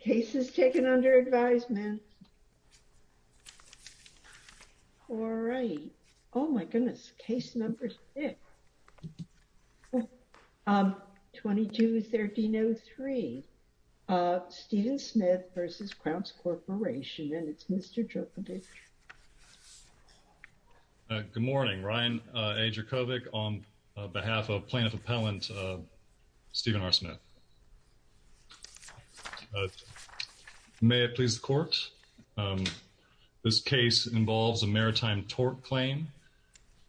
Case is taken under advisement. All right. Oh my goodness, case number six, 22-1303. Stephen Smith v. Crounse Corporation, and it's Mr. Djokovic. Good morning, Ryan A. Djokovic on behalf of plaintiff appellant Stephen R. Smith. May it please the court. This case involves a maritime tort claim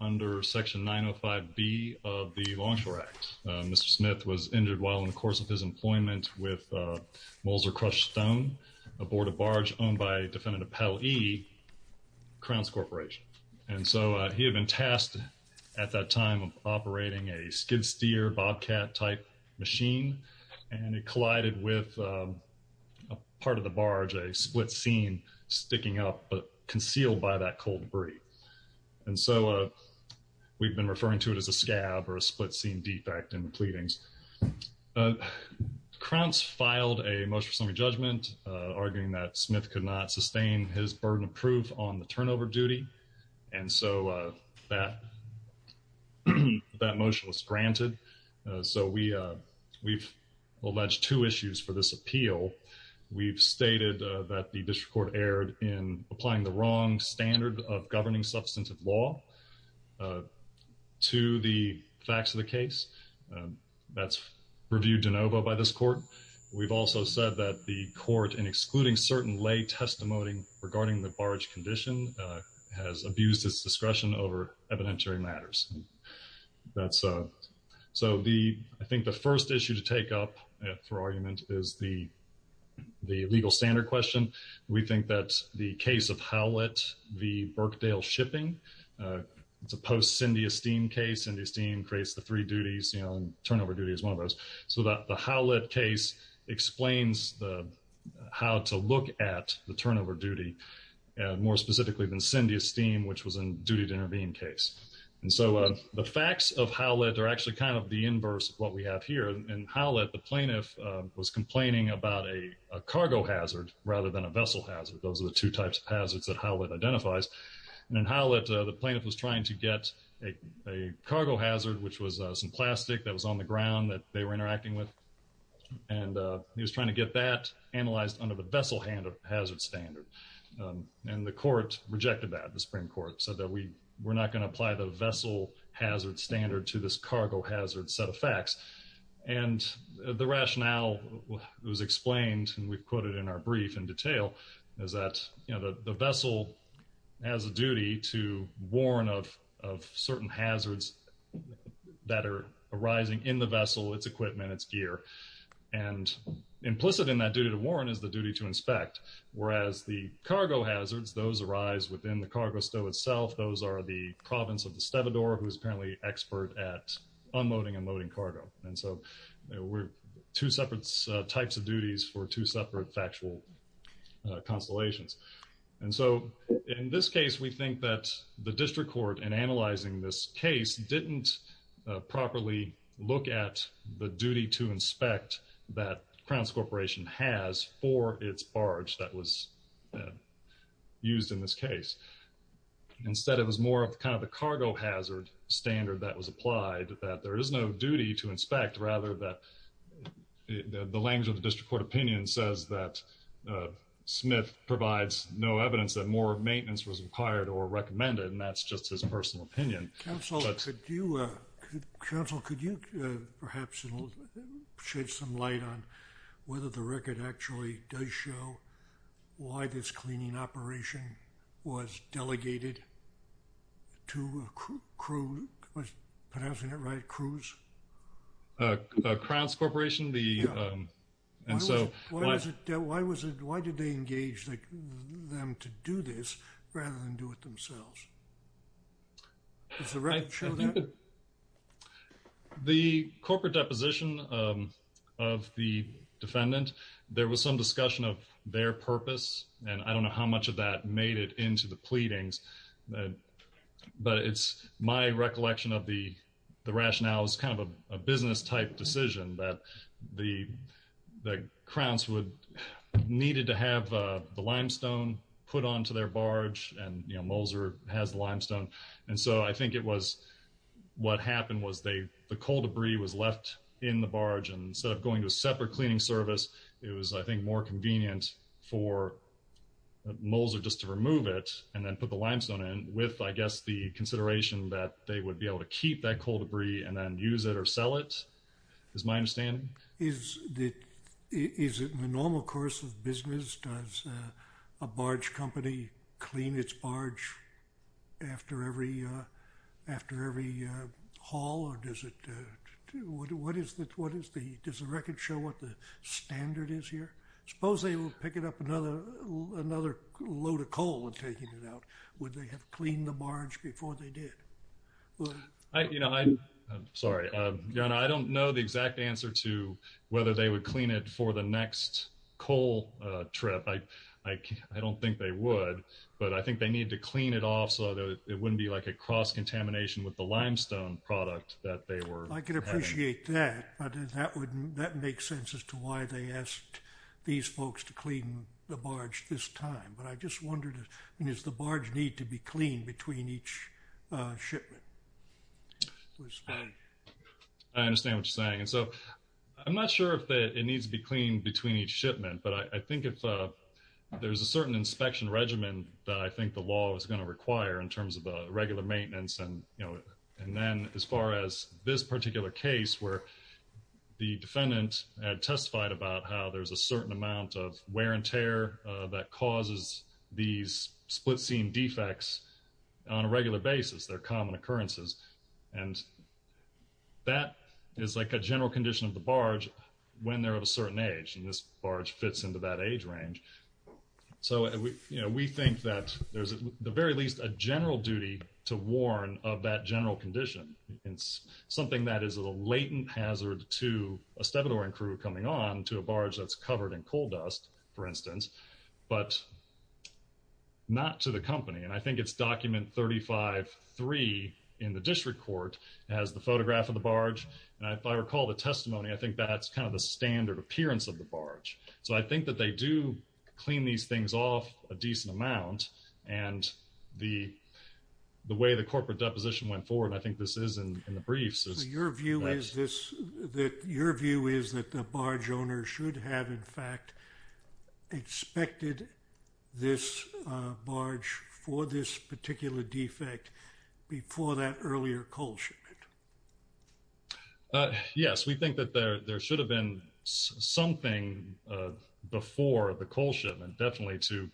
under section 905B of the Longshore Act. Mr. Smith was injured while in the course of his employment with Molzer Crush Stone aboard a barge owned by defendant appellee, Crounse Corporation. And so he had been tasked at that time operating a skid-steer bobcat type machine, and it collided with a part of the barge, a split scene sticking up, but concealed by that cold debris. And so we've been referring to it as a scab or a split scene defect in the pleadings. Crounse filed a motion for summary judgment arguing that Smith could not sustain his burden of proof on the turnover duty. And so that motion was granted. So we've alleged two issues for this appeal. We've stated that the district court erred in applying the wrong standard of governing substantive law to the facts of the case. That's reviewed de novo by this court. We've also said that the court in excluding certain lay testimony regarding the barge condition has abused its discretion over evidentiary matters. So I think the first issue to take up for argument is the legal standard question. We think that the case of Howlett v. Birkdale Shipping, it's a post-Cindy Esteem case. Cindy Esteem creates the three duties, turnover duty is one of those. So the Howlett case explains how to look at the turnover duty, more specifically than Cindy Esteem, which was a duty to intervene case. And so the facts of Howlett are actually kind of the inverse of what we have here. In Howlett, the plaintiff was complaining about a cargo hazard rather than a vessel hazard. Those are the two types of hazards that Howlett identifies. And in Howlett, the plaintiff was trying to get a cargo hazard, which was some plastic that was on the ground that they were interacting with. And he was trying to get that analyzed under the vessel hazard standard. And the court rejected that, the Supreme Court, said that we're not gonna apply the vessel hazard standard to this cargo hazard set of facts. And the rationale was explained, and we've quoted in our brief in detail, is that the vessel has a duty to warn of certain hazards that are arising in the vessel, its equipment, its gear. And implicit in that duty to warn is the duty to inspect. Whereas the cargo hazards, those arise within the cargo stow itself. Those are the province of Estevador, who's apparently expert at unloading and loading cargo. And so we're two separate types of duties for two separate factual constellations. And so in this case, we think that the district court in analyzing this case didn't properly look at the duty to inspect that Crowns Corporation has for its barge that was used in this case. Instead, it was more of kind of the cargo hazard standard that was applied, that there is no duty to inspect, rather that the language of the district court opinion says that Smith provides no evidence that more maintenance was required or recommended. And that's just his personal opinion. But- Council, could you perhaps shed some light on whether the record actually does show why this cleaning operation was delegated to a crew, was pronouncing it right, crews? Crowns Corporation, the, and so- Why was it, why did they engage them to do this rather than do it themselves? Is that right, Sheldon? The corporate deposition of the defendant, there was some discussion of their purpose. And I don't know how much of that made it into the pleadings, but it's my recollection of the rationale is kind of a business type decision that the Crowns would, needed to have the limestone put onto their barge and you know, Moser has limestone. And so I think it was, what happened was they, the coal debris was left in the barge and instead of going to a separate cleaning service, it was, I think, more convenient for Moser just to remove it and then put the limestone in with, I guess, the consideration that they would be able to keep that coal debris and then use it or sell it, is my understanding. Is it in the normal course of business, does a barge company clean its barge after every haul? Or does it, what is the, does the record show what the standard is here? Suppose they will pick it up another load of coal and taking it out. Would they have cleaned the barge before they did? I, you know, I'm sorry. Your Honor, I don't know the exact answer to whether they would clean it for the next coal trip. I don't think they would, but I think they need to clean it off so that it wouldn't be like a cross-contamination with the limestone product that they were having. I can appreciate that, but that would, that makes sense as to why they asked these folks to clean the barge this time. But I just wondered, between each shipment? I understand what you're saying. And so I'm not sure if it needs to be cleaned between each shipment, but I think if there's a certain inspection regimen that I think the law is gonna require in terms of a regular maintenance. And, you know, and then as far as this particular case where the defendant had testified about how there's a certain amount of wear and tear that causes these split seam defects on a regular basis, they're common occurrences. And that is like a general condition of the barge when they're of a certain age. And this barge fits into that age range. So, you know, we think that there's at the very least a general duty to warn of that general condition. It's something that is a latent hazard to a stebadoring crew coming on to a barge that's covered in coal dust, for instance, but not to the company. And I think it's document 35-3 in the district court has the photograph of the barge. And if I recall the testimony, I think that's kind of the standard appearance of the barge. So I think that they do clean these things off a decent amount and the way the corporate deposition went forward, I think this is in the briefs. Your view is that the barge owner should have in fact expected this barge for this particular defect before that earlier coal shipment. Yes, we think that there should have been something before the coal shipment, definitely to,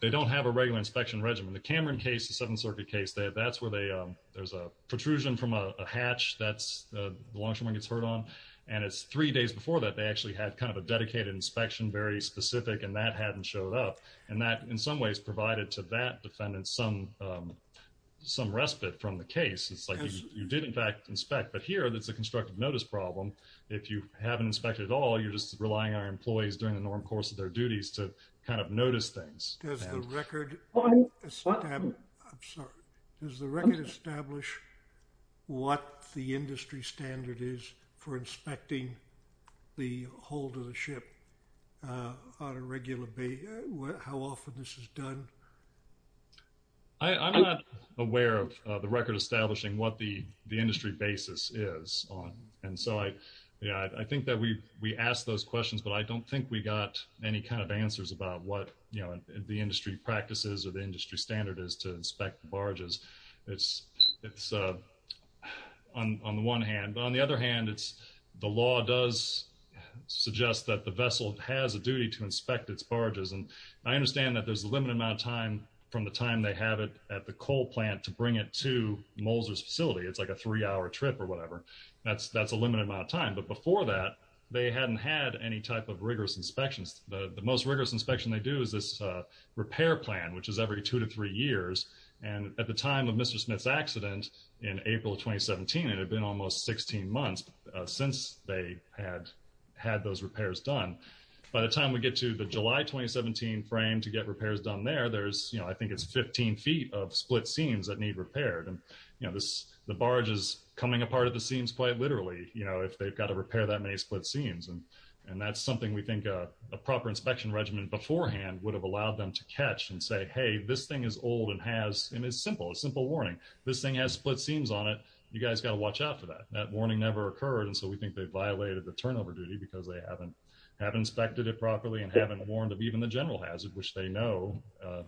they don't have a regular inspection regimen. The Cameron case, the Seventh Circuit case, that's where there's a protrusion from a hatch that the longshoreman gets hurt on. And it's three days before that, they actually had kind of a dedicated inspection, very specific and that hadn't showed up. And that in some ways provided to that defendant some respite from the case. It's like you did in fact inspect, but here that's a constructive notice problem. If you haven't inspected at all, you're just relying on your employees during the norm course of their duties to kind of notice things. Does the record, I'm sorry, does the record establish what the industry standard is for inspecting the hold of the ship? On a regular basis, how often this is done? I'm not aware of the record establishing what the industry basis is on. And so I think that we asked those questions, but I don't think we got any kind of answers about what the industry practices or the industry standard is to inspect the barges. It's on the one hand, but on the other hand, the law does suggest that the vessel has a duty to inspect its barges. And I understand that there's a limited amount of time from the time they have it at the coal plant to bring it to Moser's facility. It's like a three hour trip or whatever. That's a limited amount of time. But before that, they hadn't had any type of rigorous inspections. The most rigorous inspection they do is this repair plan, which is every two to three years. And at the time of Mr. Smith's accident in April of 2017, it had been almost 16 months since they had had those repairs done. By the time we get to the July 2017 frame to get repairs done there, there's, I think it's 15 feet of split seams that need repaired. And the barge is coming apart at the seams quite literally, if they've got to repair that many split seams. And that's something we think a proper inspection regimen beforehand would have allowed them to catch and say, hey, this thing is old and has, and it's simple, a simple warning. This thing has split seams on it. You guys got to watch out for that. That warning never occurred. And so we think they violated the turnover duty because they haven't inspected it properly and haven't warned of even the general hazard, which they know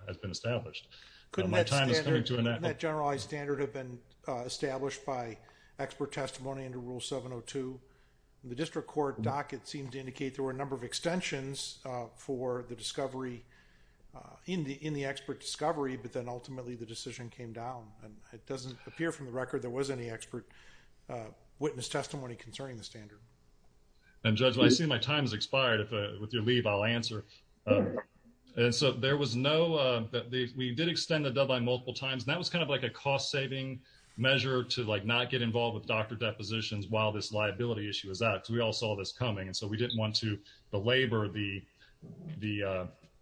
has been established. My time is coming to an end. Couldn't that generalized standard have been established by expert testimony under rule 702? The district court docket seemed to indicate there were a number of extensions for the discovery in the expert discovery, but then ultimately the decision came down. And it doesn't appear from the record that there was any expert witness testimony concerning the standard. And Judge, I see my time has expired. With your leave, I'll answer. And so there was no, we did extend the deadline multiple times. And that was kind of like a cost-saving measure to like not get involved with doctor depositions while this liability issue was out, because we all saw this coming. And so we didn't want to belabor the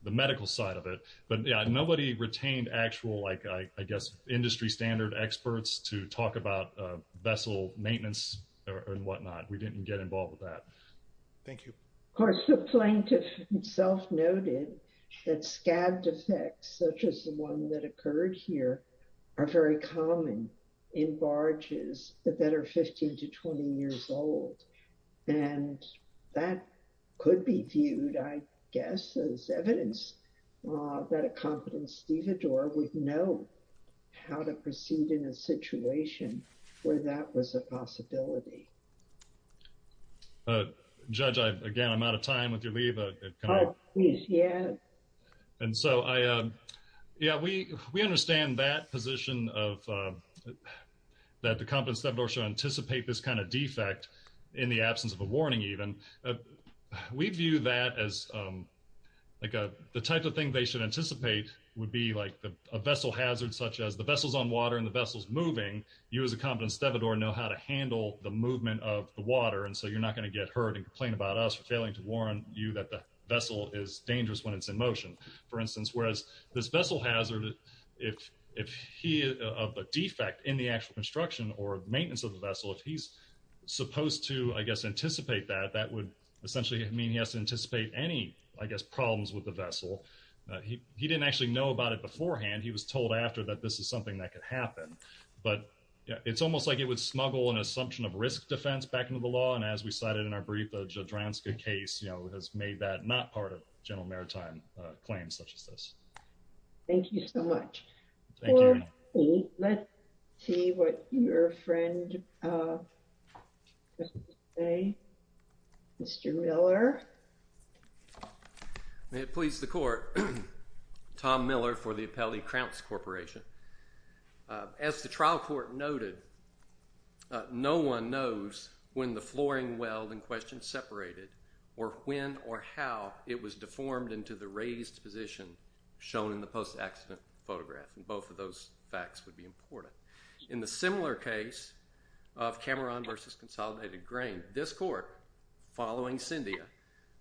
medical side of it. But yeah, nobody retained actual, like I guess industry standard experts to talk about vessel maintenance and whatnot. We didn't get involved with that. Thank you. Of course, the plaintiff himself noted that scabbed effects, such as the one that occurred here, are very common in barges that are 15 to 20 years old. And that could be viewed, I guess, as evidence that a competent stevedore would know how to proceed in a situation where that was a possibility. Judge, again, I'm out of time with your leave. Oh, please, yeah. And so, yeah, we understand that position of that the competent stevedore should anticipate this kind of defect in the absence of a warning even. We view that as like the type of thing they should anticipate would be like a vessel hazard, such as the vessel's on water and the vessel's moving, you as a competent stevedore know how to handle the movement of the water. And so you're not going to get hurt and complain about us for failing to warn you that the vessel is dangerous when it's in motion, for instance. Whereas this vessel hazard, if he of a defect in the actual construction or maintenance of the vessel, if he's supposed to, I guess, anticipate that, that would essentially mean he has to anticipate any, I guess, problems with the vessel. He didn't actually know about it beforehand. He was told after that this is something that could happen, but it's almost like it would snuggle an assumption of risk defense back into the law. And as we cited in our brief, the Jadranska case, has made that not part of general maritime claims such as this. Thank you so much. Thank you. Let's see what your friend, Mr. Miller. May it please the court, Tom Miller for the Appellee Crouch Corporation. As the trial court noted, no one knows when the flooring weld in question separated or when or how it was deformed into the raised position shown in the post-accident photograph. And both of those facts would be important. In the similar case of Cameron versus Consolidated Grain, this court, following Cyndia,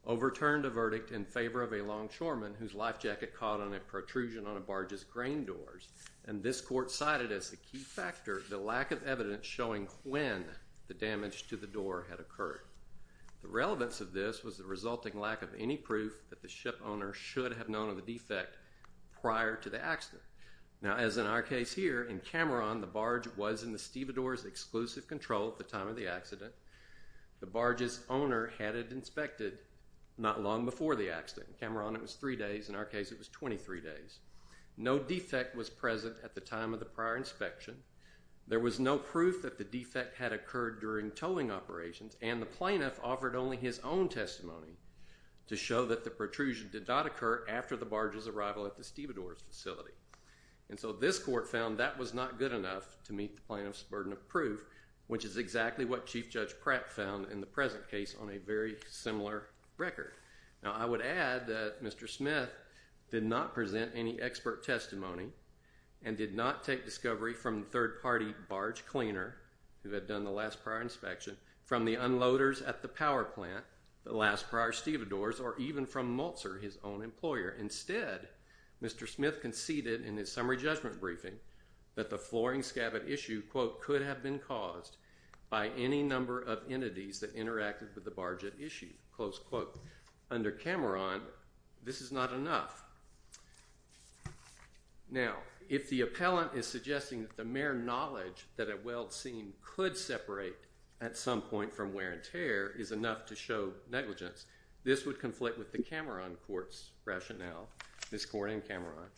overturned a verdict in favor of a longshoreman whose life jacket caught on a protrusion on a barge's grain doors. And this court cited as a key factor the lack of evidence showing when the damage to the door had occurred. The relevance of this was the resulting lack of any proof that the ship owner should have known of the defect prior to the accident. Now, as in our case here, in Cameron, the barge was in the stevedore's exclusive control at the time of the accident. The barge's owner had it inspected not long before the accident. In Cameron, it was three days. In our case, it was 23 days. No defect was present at the time of the prior inspection. There was no proof that the defect had occurred during towing operations, and the plaintiff offered only his own testimony to show that the protrusion did not occur after the barge's arrival at the stevedore's facility. And so this court found that was not good enough to meet the plaintiff's burden of proof, which is exactly what Chief Judge Pratt found in the present case on a very similar record. Now, I would add that Mr. Smith did not present any expert testimony and did not take discovery from third-party barge cleaner who had done the last prior inspection, from the unloaders at the power plant, the last prior stevedores, or even from Maltzer, his own employer. Instead, Mr. Smith conceded in his summary judgment briefing that the flooring scabbard issue, quote, could have been caused by any number of entities that interacted with the barge at issue, close quote. Under Cameron, this is not enough. Now, if the appellant is suggesting that the mere knowledge that a weld seam could separate at some point from wear and tear is enough to show negligence, this would conflict with the Cameron court's rationale, Ms. Corning and Cameron.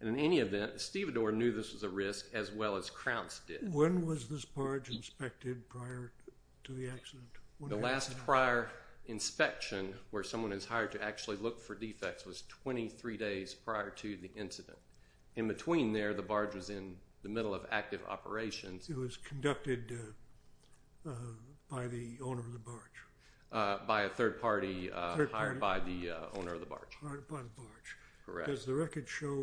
And in any event, stevedore knew this was a risk as well as Kraunz did. When was this barge inspected prior to the accident? The last prior inspection where someone is hired to actually look for defects was 23 days prior to the incident. In between there, the barge was in the middle of active operations. It was conducted by the owner of the barge. By a third party hired by the owner of the barge. Hired by the barge. Correct. Does the record show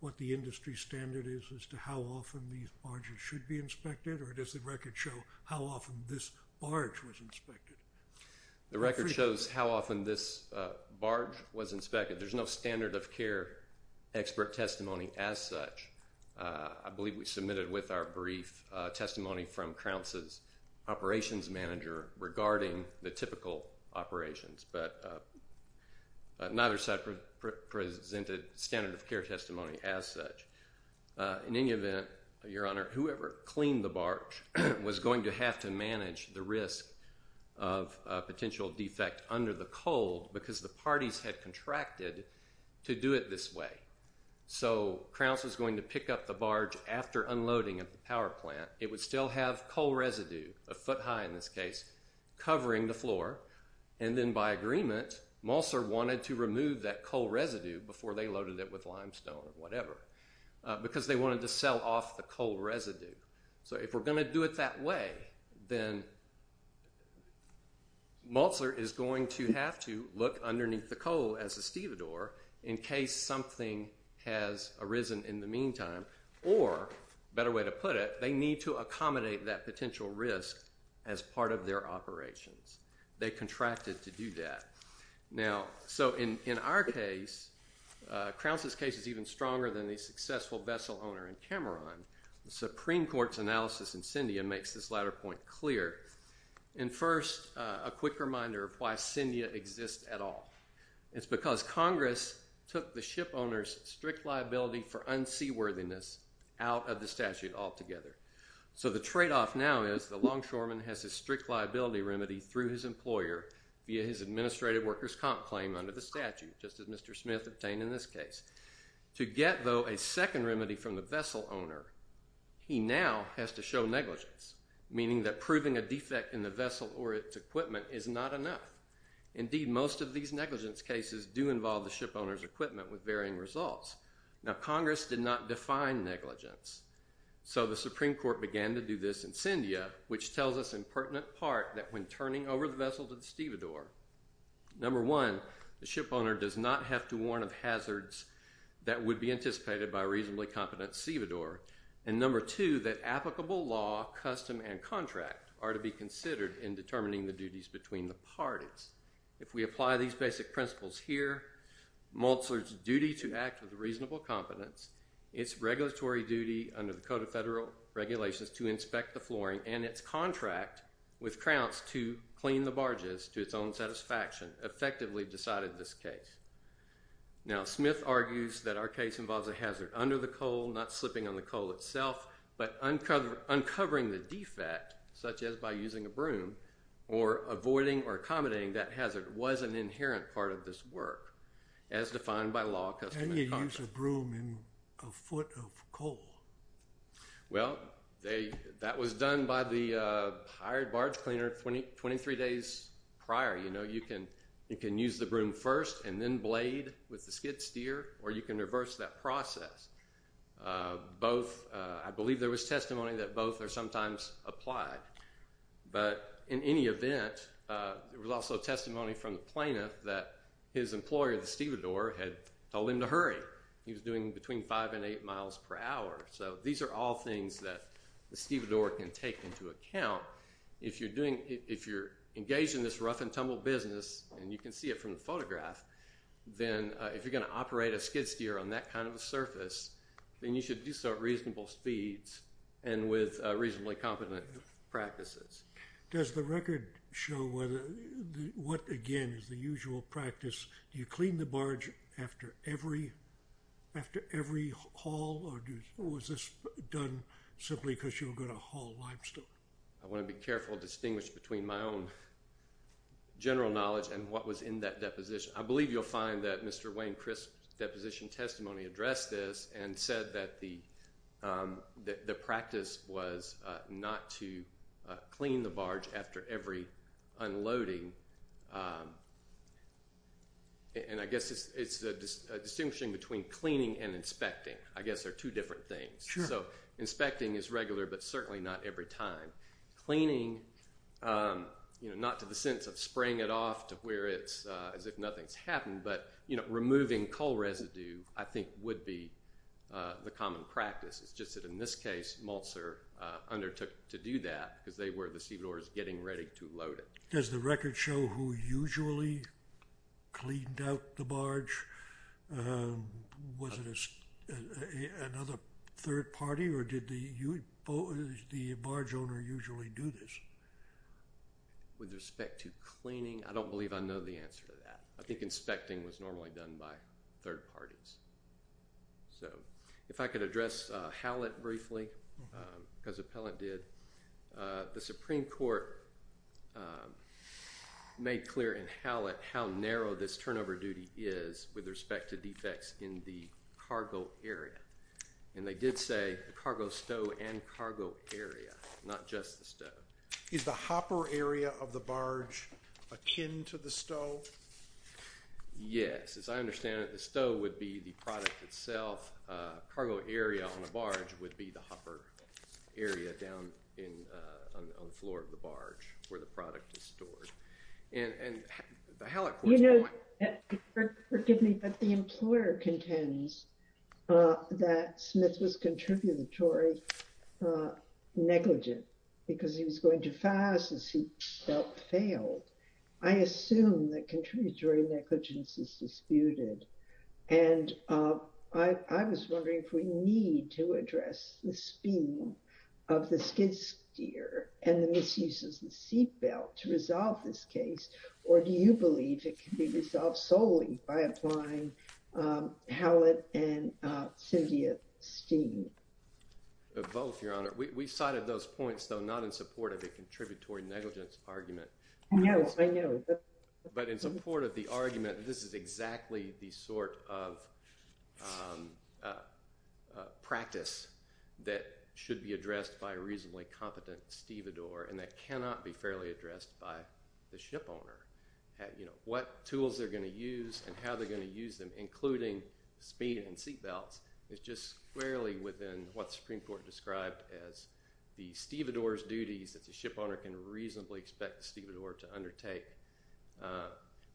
what the industry standard is as to how often these barges should be inspected or does the record show how often this barge was inspected? The record shows how often this barge was inspected. There's no standard of care expert testimony as such. I believe we submitted with our brief testimony from Kraunz's operations manager regarding the typical operations, but neither side presented standard of care testimony as such. In any event, your honor, whoever cleaned the barge was going to have to manage the risk of a potential defect under the cold because the parties had contracted to do it this way. So Kraunz was going to pick up the barge after unloading at the power plant. a foot high in this case, covering the floor. And then by agreement, Molzer wanted to remove that coal residue before they loaded it with limestone or whatever because they wanted to sell off the coal residue. So if we're gonna do it that way, then Molzer is going to have to look underneath the coal as a stevedore in case something has arisen in the meantime, or better way to put it, they need to accommodate that potential risk as part of their operations. They contracted to do that. Now, so in our case, Kraunz's case is even stronger than the successful vessel owner in Cameron. The Supreme Court's analysis in Syndia makes this latter point clear. And first, a quick reminder of why Syndia exists at all. It's because Congress took the ship owner's strict liability for unseaworthiness out of the statute altogether. So the trade-off now is the longshoreman has a strict liability remedy through his employer via his administrative workers' comp claim under the statute just as Mr. Smith obtained in this case. To get, though, a second remedy from the vessel owner, he now has to show negligence, meaning that proving a defect in the vessel or its equipment is not enough. Indeed, most of these negligence cases do involve the ship owner's equipment with varying results. Now, Congress did not define negligence. So the Supreme Court began to do this in Syndia, which tells us in pertinent part that when turning over the vessel to the stevedore, number one, the ship owner does not have to warn of hazards that would be anticipated by a reasonably competent stevedore. And number two, that applicable law, custom, and contract are to be considered in determining the duties between the parties. If we apply these basic principles here, Maltzler's duty to act with reasonable competence, its regulatory duty under the Code of Federal Regulations to inspect the flooring, and its contract with Krauts to clean the barges to its own satisfaction effectively decided this case. Now, Smith argues that our case involves a hazard under the coal, not slipping on the coal itself, but uncovering the defect, such as by using a broom, or avoiding or accommodating that hazard was an inherent part of this work, as defined by law, custom, and contract. Can you use a broom in a foot of coal? Well, that was done by the hired barge cleaner 23 days prior. You know, you can use the broom first, and then blade with the skid steer, or you can reverse that process. Both, I believe there was testimony that both are sometimes applied. But in any event, there was also testimony from the plaintiff that his employer, the stevedore, had told him to hurry. He was doing between five and eight miles per hour. So these are all things that the stevedore can take into account. If you're engaged in this rough and tumble business, and you can see it from the photograph, then if you're gonna operate a skid steer on that kind of a surface, then you should do so at reasonable speeds, and with reasonably competent practices. Does the record show what, again, is the usual practice? Do you clean the barge after every haul, or was this done simply because you were gonna haul limestone? I wanna be careful to distinguish between my own general knowledge and what was in that deposition. I believe you'll find that Mr. Wayne Crisp's deposition testimony addressed this, and said that the practice was not to clean the barge after every unloading. And I guess it's a distinction between cleaning and inspecting. I guess they're two different things. So inspecting is regular, but certainly not every time. Cleaning, not to the sense of spraying it off to where it's as if nothing's happened, but removing coal residue, I think would be the common practice. It's just that in this case, Maltzer undertook to do that, because they were the seaboarders getting ready to load it. Does the record show who usually cleaned out the barge? Was it another third party, or did the barge owner usually do this? With respect to cleaning, I don't believe I know the answer to that. I think inspecting was normally done by third parties. So if I could address Howlett briefly, because Appellant did, the Supreme Court made clear in Howlett how narrow this turnover duty is with respect to defects in the cargo area. And they did say the cargo stow and cargo area, not just the stow. Is the hopper area of the barge akin to the stow? Yes, as I understand it, the stow would be the product itself. Cargo area on a barge would be the hopper area down on the floor of the barge, where the product is stored. And the Howlett Court's point- You know, forgive me, but the employer contends that Smith was contributory negligent, because he was going too fast as he felt failed. I assume that contributory negligence is disputed. And I was wondering if we need to address the scheme of the skid steer and the misuse of the seatbelt to resolve this case, or do you believe it can be resolved solely by applying Howlett and Cynthia Steen? Both, Your Honor. We cited those points, though, not in support of the contributory negligence argument. I know, I know. But in support of the argument that this is exactly the sort of practice that should be addressed by a reasonably competent stevedore, and that cannot be fairly addressed by the shipowner. What tools they're gonna use and how they're gonna use them, including speed and seatbelts, is just squarely within what the Supreme Court described as the stevedore's duties that the shipowner can reasonably expect the stevedore to undertake.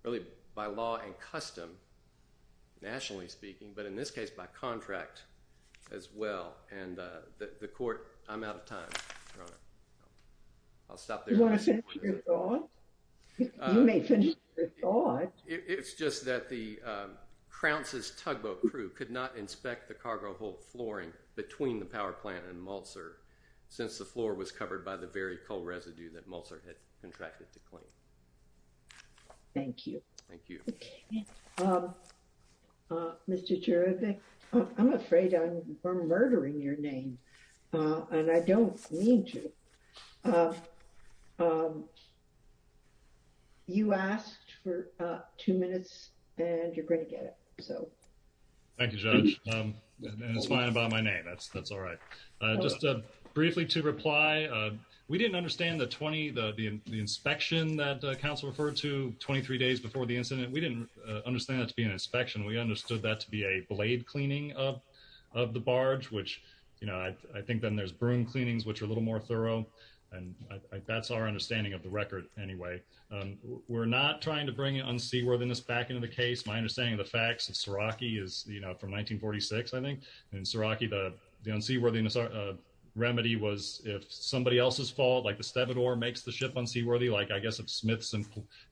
Really, by law and custom, nationally speaking, but in this case, by contract as well. And the court, I'm out of time, Your Honor. I'll stop there. You wanna finish your thought? You may finish your thought. It's just that the Kraunz's tugboat crew could not inspect the cargo hold flooring between the power plant and Mulser since the floor was covered by the very coal residue that Mulser had contracted to clean. Thank you. Thank you. Mr. Cherevick, I'm afraid I'm murdering your name, and I don't mean to. You asked for two minutes, and you're gonna get it, so. Thank you, Judge, and it's fine by my name. That's all right. Just briefly to reply, we didn't understand the 20, the inspection that counsel referred to 23 days before the incident. We didn't understand that to be an inspection. We understood that to be a blade cleaning of the barge, which I think then there's broom cleanings, which are a little more thorough, and that's our understanding of the record anyway. We're not trying to bring unseaworthiness back into the case. My understanding of the facts of Seraki is from 1946, I think. In Seraki, the unseaworthiness remedy was if somebody else's fault, like the stevedore makes the ship unseaworthy, like I guess if Smith's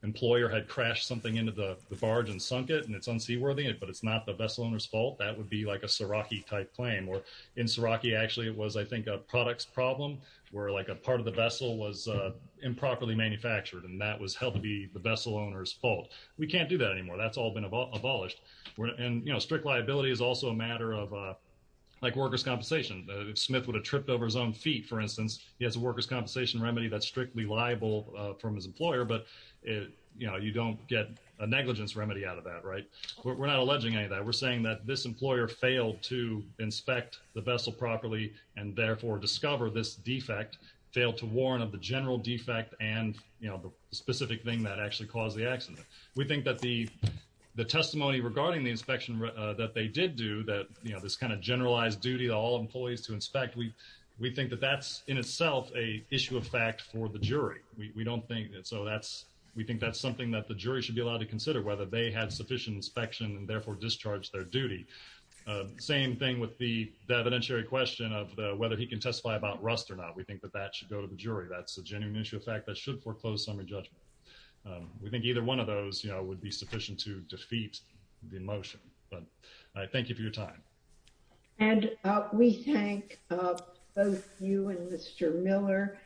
employer had crashed something into the barge and sunk it, and it's unseaworthy, but it's not the vessel owner's fault, that would be like a Seraki-type claim, or in Seraki, actually, it was, I think, a products problem where like a part of the vessel was improperly manufactured, and that was held to be the vessel owner's fault. We can't do that anymore. That's all been abolished, and strict liability is also a matter of, like workers' compensation. If Smith would have tripped over his own feet, for instance, he has a workers' compensation remedy that's strictly liable from his employer, but you don't get a negligence remedy out of that, right? We're not alleging any of that. We're saying that this employer failed to inspect the vessel properly, and therefore discover this defect, failed to warn of the general defect and the specific thing that actually caused the accident. We think that the testimony regarding the inspection that they did do, that this kind of generalized duty that all employees to inspect, we think that that's, in itself, a issue of fact for the jury. We don't think that, so that's, we think that's something that the jury should be allowed to consider, whether they had sufficient inspection and therefore discharged their duty. Same thing with the evidentiary question of whether he can testify about rust or not. We think that that should go to the jury. That's a genuine issue of fact that should foreclose summary judgment. We think either one of those would be sufficient to defeat the motion, but I thank you for your time. And we thank both you and Mr. Miller.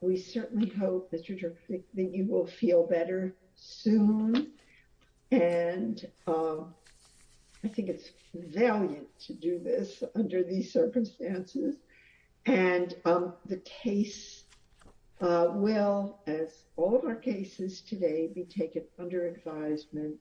We certainly hope that you will feel better soon. And I think it's valiant to do this under these circumstances. And the case will, as all of our cases today, be taken under advisement.